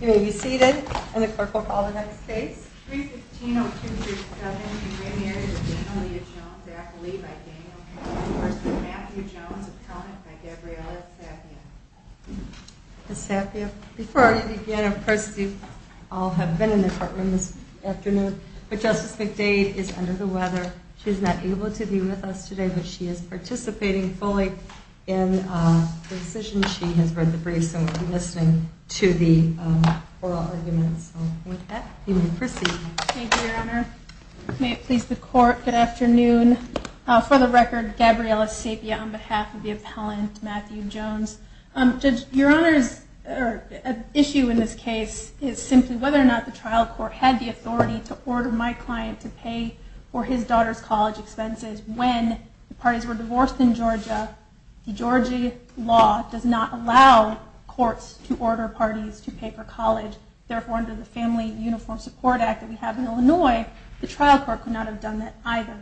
You may be seated, and the clerk will call the next case. 315-0237, the Grand Marriage of Danielia Jones-Zachalee by Daniel K. McDade v. Matthew Jones, Appellant by Gabriella Saphia. Ms. Saphia, before I begin, of course, you all have been in the courtroom this afternoon, but Justice McDade is under the weather. She is not able to be with us today, but she is participating fully in the decision. She has read the briefs and will be listening to the oral arguments. You may proceed. Thank you, Your Honor. May it please the Court, good afternoon. For the record, Gabriella Saphia on behalf of the appellant, Matthew Jones. Judge, Your Honor's issue in this case is simply whether or not the trial court had the authority to order my client to pay for his daughter's college expenses when the parties were divorced in Georgia. The Georgia law does not allow courts to order parties to pay for college. Therefore, under the Family Uniform Support Act that we have in Illinois, the trial court could not have done that either.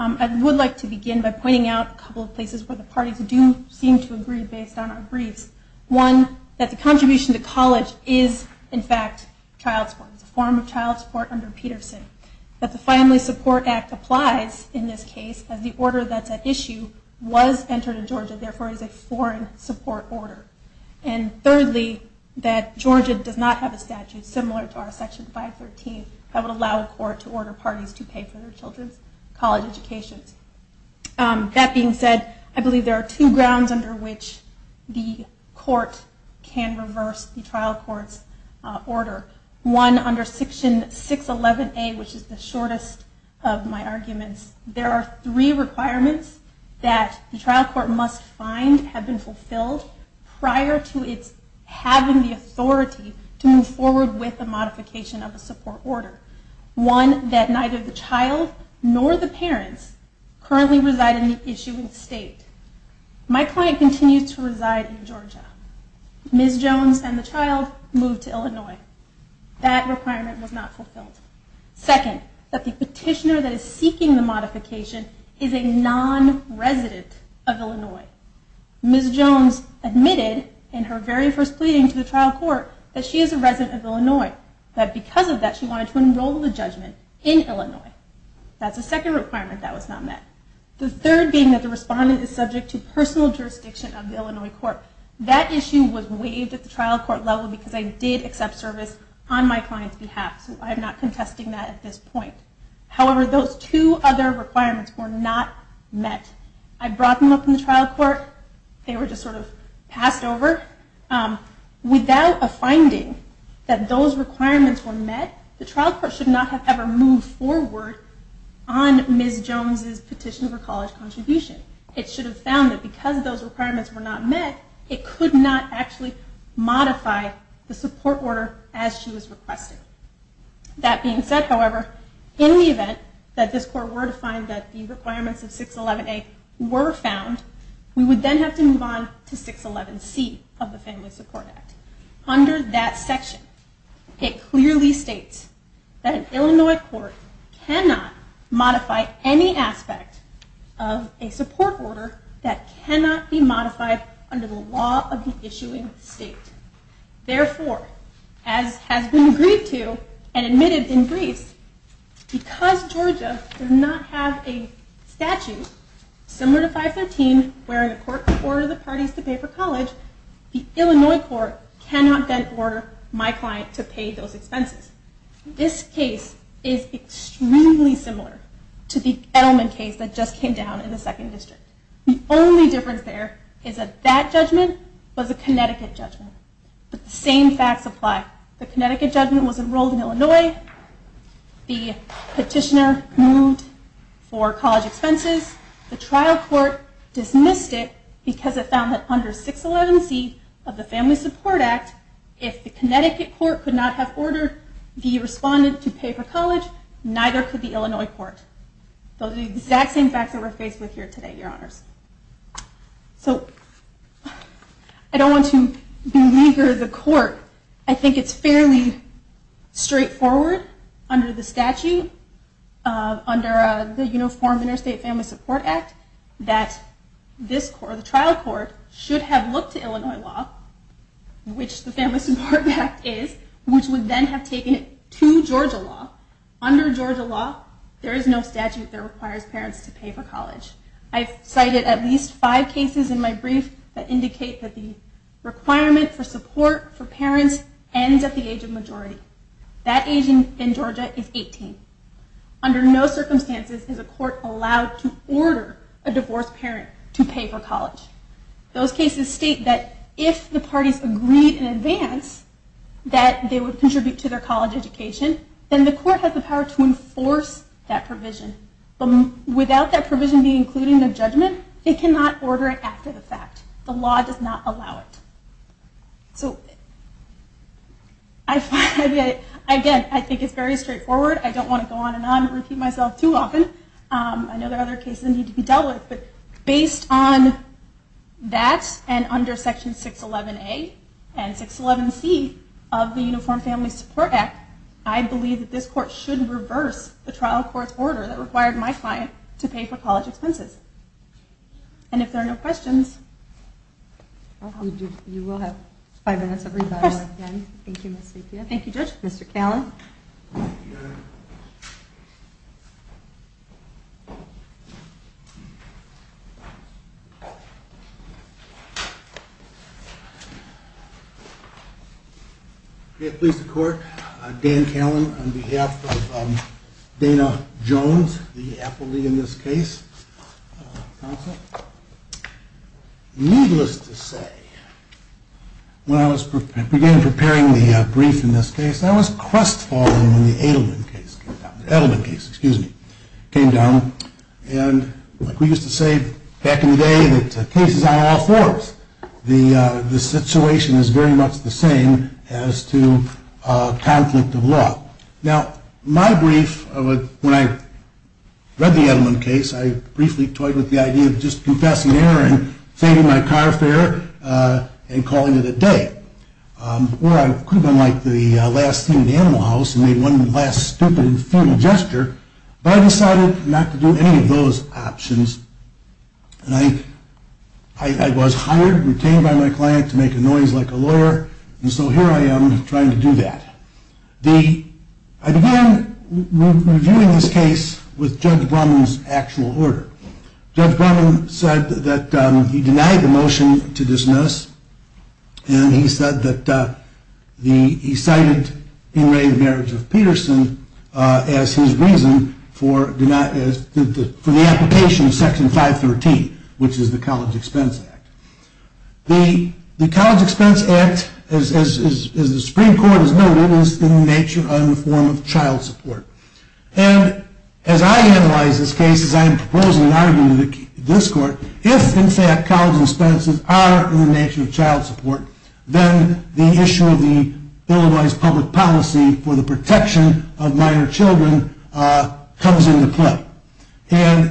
I would like to begin by pointing out a couple of places where the parties do seem to agree based on our briefs. One, that the contribution to college is, in fact, child support. It's a form of child support under Peterson. That the Family Support Act applies in this case as the order that's at issue was entered in Georgia, therefore it is a foreign support order. And thirdly, that Georgia does not have a statute similar to our Section 513 that would allow a court to order parties to pay for their children's college educations. That being said, I believe there are two grounds under which the court can reverse the trial court's order. One, under Section 611A, which is the shortest of my arguments, there are three requirements that the trial court must find have been fulfilled prior to its having the authority to move forward with a modification of a support order. One, that neither the child nor the parents currently reside in the issuing state. My client continues to reside in Georgia. Ms. Jones and the child moved to Illinois. That requirement was not fulfilled. Second, that the petitioner that is seeking the modification is a non-resident of Illinois. Ms. Jones admitted in her very first pleading to the trial court that she is a resident of Illinois. That because of that, she wanted to enroll the judgment in Illinois. That's the second requirement that was not met. The third being that the respondent is subject to personal jurisdiction of the Illinois court. That issue was waived at the trial court level because I did accept service on my client's behalf. So I am not contesting that at this point. However, those two other requirements were not met. I brought them up in the trial court. They were just sort of passed over. Without a finding that those requirements were met, the trial court should not have ever moved forward on Ms. Jones' petition for college contribution. It should have found that because those requirements were not met, it could not actually modify the support order as she was requesting. That being said, however, in the event that this court were to find that the requirements of 611A were found, we would then have to move on to 611C of the Family Support Act. Under that section, it clearly states that an Illinois court cannot modify any aspect of a support order that cannot be modified under the law of the issuing state. Therefore, as has been agreed to and admitted in Greece, because Georgia does not have a statute similar to 513, where the court can order the parties to pay for college, the Illinois court cannot then order my client to pay those expenses. This case is extremely similar to the Edelman case that just came down in the 2nd District. The only difference there is that that judgment was a Connecticut judgment. But the same facts apply. The Connecticut judgment was enrolled in Illinois. The petitioner moved for college expenses. The trial court dismissed it because it found that under 611C of the Family Support Act, if the Connecticut court could not have ordered the respondent to pay for college, neither could the Illinois court. Those are the exact same facts that we're faced with here today, Your Honors. So I don't want to belabor the court. I think it's fairly straightforward under the statute, under the Uniform Interstate Family Support Act, that this trial court should have looked to Illinois law, which the Family Support Act is, which would then have taken it to Georgia law. Under Georgia law, there is no statute that requires parents to pay for college. I've cited at least five cases in my brief that indicate that the requirement for support for parents ends at the age of majority. That age in Georgia is 18. Under no circumstances is a court allowed to order a divorced parent to pay for college. Those cases state that if the parties agreed in advance that they would contribute to their college education, then the court has the power to enforce that provision. Without that provision being included in the judgment, it cannot order it after the fact. The law does not allow it. Again, I think it's very straightforward. I don't want to go on and on and repeat myself too often. I know there are other cases that need to be dealt with, but based on that and under Section 611A and 611C of the Uniform Family Support Act, I believe that this court should reverse the trial court's order that required my client to pay for college expenses. And if there are no questions... You will have five minutes of rebuttal. Thank you, Judge. Thank you, Judge. Mr. Callan. Thank you, Your Honor. Okay, please, the court. Dan Callan on behalf of Dana Jones, the appellee in this case. Needless to say, when I began preparing the brief in this case, I was crestfallen when the Edelman case came down. And like we used to say back in the day, that case is on all fours. The situation is very much the same as to a conflict of law. Now, my brief, when I read the Edelman case, I briefly toyed with the idea of just confessing error and saving my car fare and calling it a day. Or I could have been like the last thing in the animal house and made one last stupid and futile gesture, but I decided not to do any of those options. And I was hired and retained by my client to make a noise like a lawyer, and so here I am trying to do that. I began reviewing this case with Judge Brumman's actual order. Judge Brumman said that he denied the motion to dismiss, and he said that he cited being ready to marriage with Peterson as his reason for the application of Section 513, which is the College Expense Act. The College Expense Act, as the Supreme Court has noted, is in the nature of a form of child support. And as I analyze this case, as I am proposing an argument in this court, if, in fact, college expenses are in the nature of child support, then the issue of Illinois' public policy for the protection of minor children comes into play. And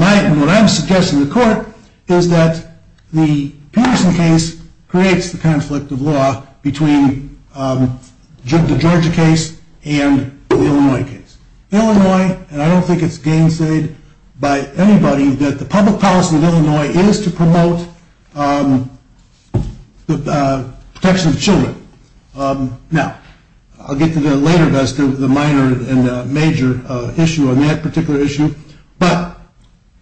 what I'm suggesting to court is that the Peterson case creates the conflict of law between the Georgia case and the Illinois case. Illinois, and I don't think it's gainsayed by anybody, that the public policy of Illinois is to promote the protection of children. Now, I'll get to that later, but that's the minor and major issue on that particular issue. But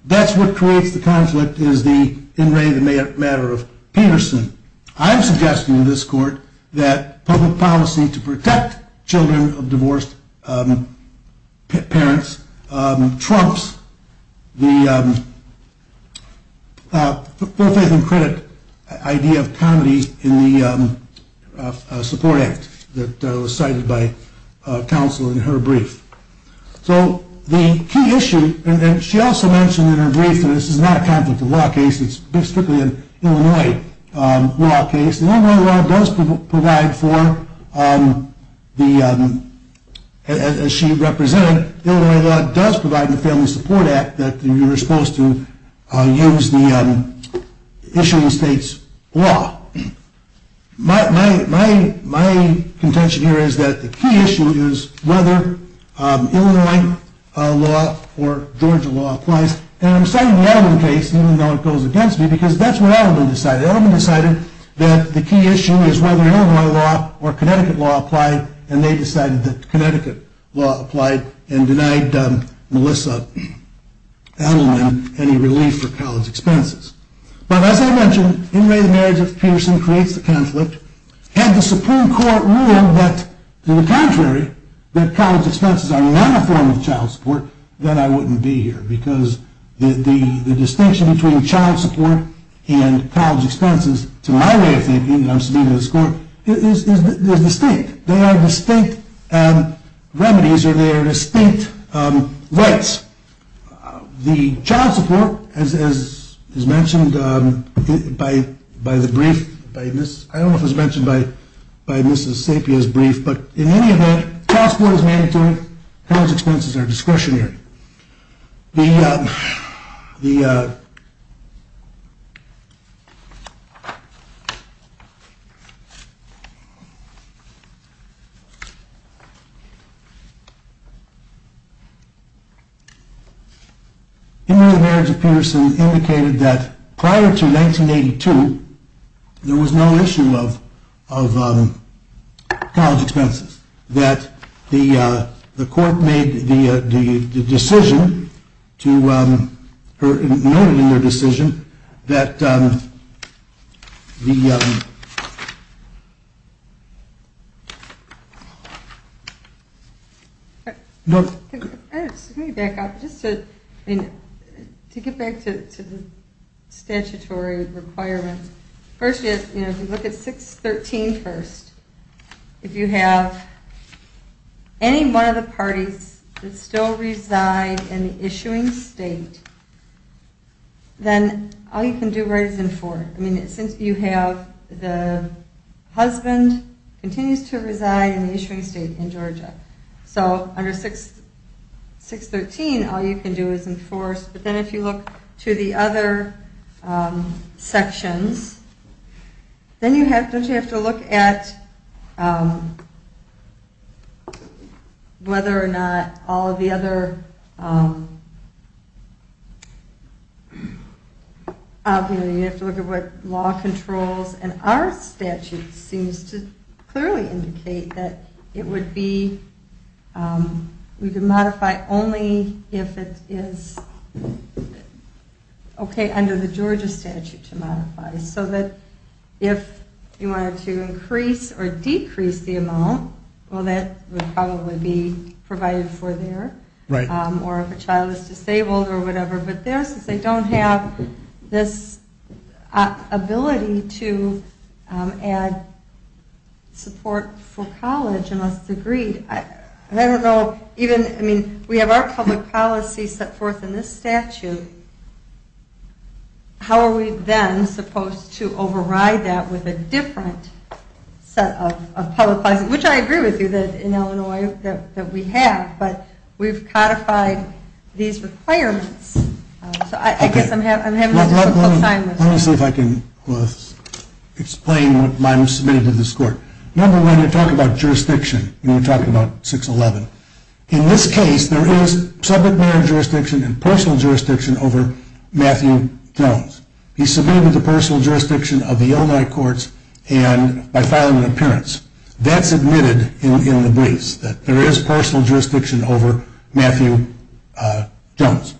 that's what creates the conflict is the in re the matter of Peterson. I'm suggesting in this court that public policy to protect children of divorced parents trumps the full faith and credit idea of comedy in the support act that was cited by counsel in her brief. So the key issue, and she also mentioned in her brief that this is not a conflict of law case, it's strictly an Illinois law case, and Illinois law does provide for, as she represented, Illinois law does provide the family support act that you're supposed to use the issuing state's law. My contention here is that the key issue is whether Illinois law or Georgia law applies. And I'm citing the Edelman case, even though it goes against me, because that's what Edelman decided. Edelman decided that the key issue is whether Illinois law or Connecticut law applied, and they decided that Connecticut law applied and denied Melissa Edelman any relief for college expenses. But as I mentioned, in re the marriage of Peterson creates the conflict. Had the Supreme Court ruled that to the contrary, that college expenses are not a form of child support, then I wouldn't be here, because the distinction between child support and college expenses, to my way of thinking, and I'm speaking to this court, is distinct. They are distinct remedies or they are distinct rights. The child support, as is mentioned by the brief, I don't know if it was mentioned by Mrs. Sapia's brief, but in any event, child support is mandatory, college expenses are discretionary. In the marriage of Peterson indicated that prior to 1982, there was no issue of college expenses. The court made the decision, or noted in their decision that the... To get back to the statutory requirements, first, if you look at 613 first, if you have any one of the parties that still reside in the issuing state, then all you can do right is enforce. Since you have the husband continues to reside in the issuing state in Georgia. So under 613, all you can do is enforce, but then if you look to the other sections, then you have to look at whether or not all of the other... You have to look at what law controls, and our statute seems to clearly indicate that it would be... We can modify only if it is okay under the Georgia statute to modify, so that if you wanted to increase or decrease the amount, well, that would probably be provided for there, or if a child is disabled or whatever, but there, since they don't have this ability to add support for college unless it's agreed, I don't know, even, I mean, we have our public policy set forth in this statute, how are we then supposed to override that with a different set of public policy, which I agree with you that in Illinois that we have, but we've codified these requirements, so I guess I'm having a difficult time. Let me see if I can explain what I'm submitting to this court. Number one, you're talking about jurisdiction, and you're talking about 611. In this case, there is subject matter jurisdiction and personal jurisdiction over Matthew Jones. He submitted the personal jurisdiction of the Illinois courts by filing an appearance. That's admitted in the briefs, that there is personal jurisdiction over Matthew Jones.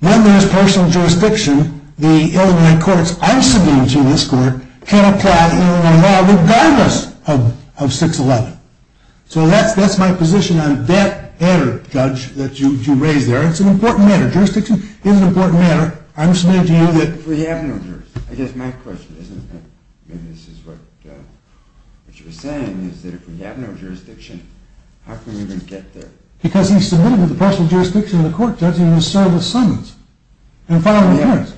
When there's personal jurisdiction, the Illinois courts I'm submitting to in this court can apply Illinois law regardless of 611. So that's my position on that error, Judge, that you raise there. It's an important matter. Jurisdiction is an important matter. I'm submitting to you that... We have no jurisdiction. I guess my question is, and maybe this is what you were saying, is that if we have no jurisdiction, how can we even get there? Because he submitted the personal jurisdiction to the court, Judge, and he was served a sentence and filed an appearance.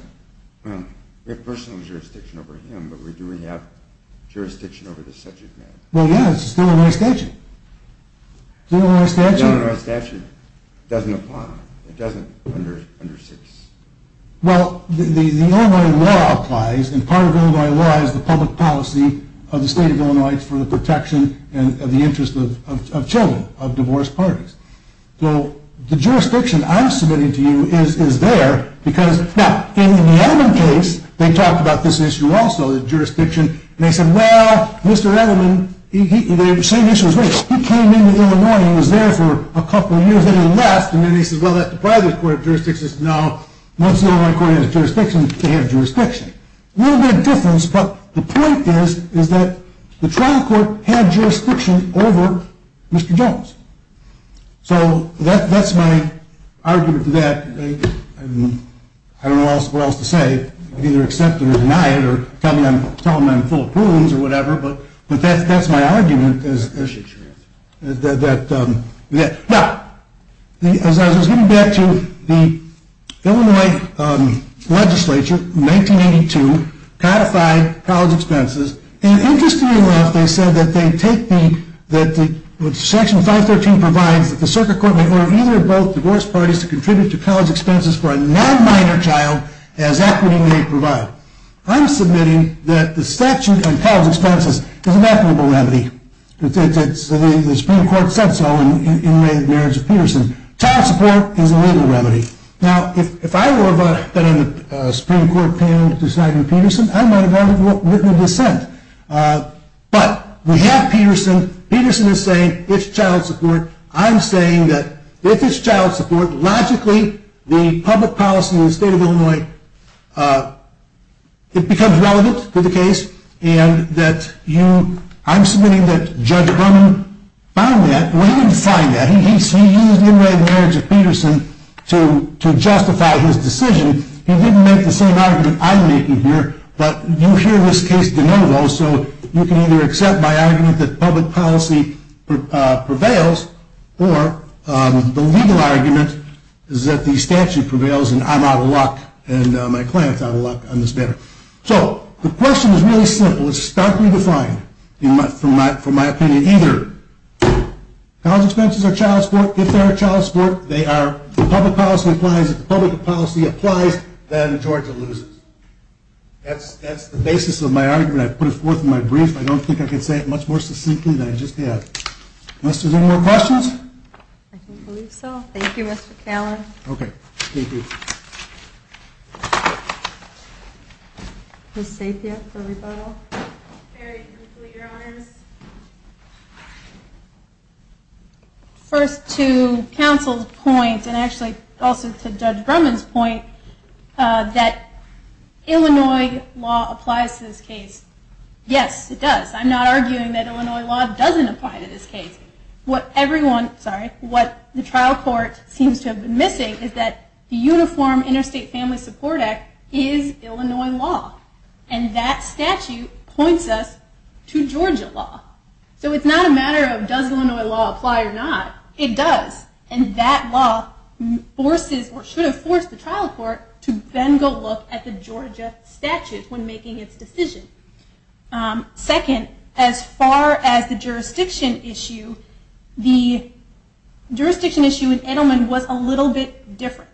Well, we have personal jurisdiction over him, but do we have jurisdiction over the subject matter? Well, yeah, it's still in our statute. It's still in our statute? It's still in our statute. It doesn't apply. It doesn't under 611. Well, the Illinois law applies, and part of Illinois law is the public policy of the state of Illinois for the protection of the interests of children, of divorced parties. So the jurisdiction I'm submitting to you is there because, now, in the Edelman case, they talked about this issue also, the jurisdiction, and they said, well, Mr. Edelman, the same issue was raised. He came into Illinois, he was there for a couple of years, then he left, and then he said, well, that deprived the court of jurisdiction. Now, once the Illinois court has jurisdiction, they have jurisdiction. A little bit of difference, but the point is, is that the trial court had jurisdiction over Mr. Jones. So that's my argument to that. I don't know what else to say. Either accept it or deny it, or tell them I'm full of prunes, or whatever, but that's my argument. Now, as I was getting back to the Illinois legislature, in 1982, codified college expenses, and interestingly enough, they said that section 513 provides that the circuit court may order either or both divorced parties to contribute to college expenses for a non-minor child as equity may provide. I'm submitting that the statute on college expenses is an equitable remedy. The Supreme Court said so in the marriage of Peterson. Child support is a legal remedy. Now, if I were to have been on the Supreme Court panel deciding with Peterson, I might have rather written a dissent. But we have Peterson. Peterson is saying it's child support. I'm saying that if it's child support, logically, the public policy in the state of Illinois, it becomes relevant to the case, and that you, I'm submitting that Judge Crum found that. Well, he didn't find that. He used the unwritten marriage of Peterson to justify his decision. He didn't make the same argument I'm making here, but you hear this case de novo, so you can either accept my argument that public policy prevails, or the legal argument is that the statute prevails and I'm out of luck, and my client's out of luck on this matter. So, the question is really simple. It's starkly defined, from my opinion, either college expenses are child support. If they are child support, the public policy applies. If the public policy applies, then Georgia loses. That's the basis of my argument. I put it forth in my brief. I don't think I can say it much more succinctly than I just did. Unless there's any more questions? I don't believe so. Thank you, Mr. Callan. Okay. Thank you. Ms. Sapia, for rebuttal. Very quickly, Your Honors. First, to counsel's point, and actually also to Judge Drummond's point, that Illinois law applies to this case. Yes, it does. I'm not arguing that Illinois law doesn't apply to this case. What the trial court seems to have been missing is that the Uniform Interstate Family Support Act is Illinois law. And that statute points us to Georgia law. So, it's not a matter of, does Illinois law apply or not? It does. And that law should have forced the trial court to then go look at the Georgia statute when making its decision. Second, as far as the jurisdiction issue, the jurisdiction issue in Edelman was a little bit different.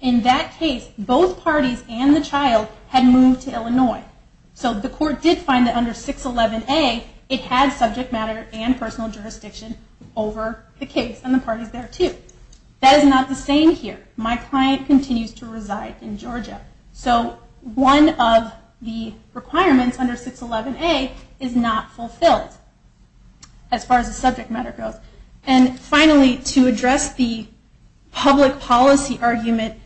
In that case, both parties and the child had moved to Illinois. So, the court did find that under 611A, it had subject matter and personal jurisdiction over the case, and the parties there too. That is not the same here. My client continues to reside in Georgia. So, one of the requirements under 611A is not fulfilled, as far as the subject matter goes. And finally, to address the public policy argument,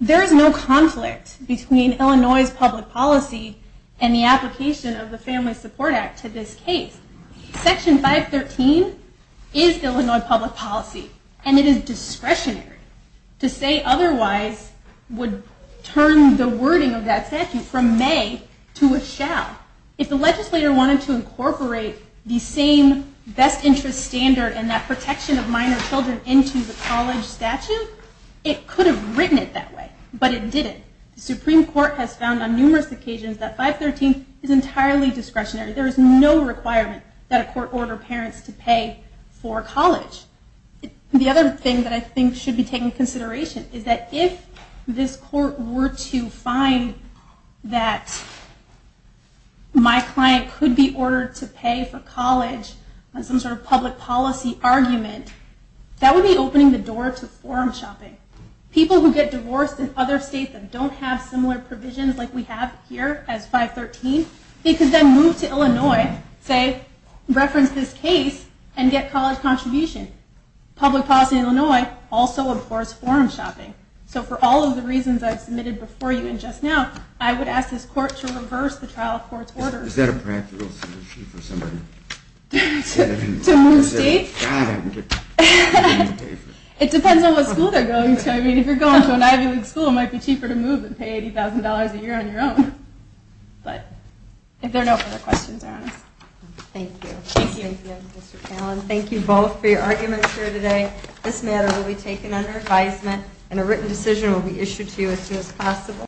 there is no conflict between Illinois' public policy and the application of the Family Support Act to this case. Section 513 is Illinois public policy, and it is discretionary to say otherwise would turn the wording of that statute from may to a shall. If the legislator wanted to incorporate the same best interest standard and that protection of minor children into the college statute, it could have written it that way, but it didn't. The Supreme Court has found on numerous occasions that 513 is entirely discretionary. There is no requirement that a court order parents to pay for college. The other thing that I think should be taken into consideration, is that if this court were to find that my client could be ordered to pay for college on some sort of public policy argument, that would be opening the door to forum shopping. People who get divorced in other states that don't have similar provisions like we have here as 513, they could then move to Illinois, say, reference this case, and get college contribution. Public policy in Illinois also abhors forum shopping. So for all of the reasons I've submitted before you and just now, I would ask this court to reverse the trial court's orders. Is that a practical solution for somebody? To move state? God, I would get paid to pay for that. It depends on what school they're going to. I mean, if you're going to an Ivy League school, it might be cheaper to move than pay $80,000 a year on your own. But if there are no further questions, they're on us. Thank you. Thank you. Thank you both for your arguments here today. This matter will be taken under advisement, and a written decision will be issued to you as soon as possible.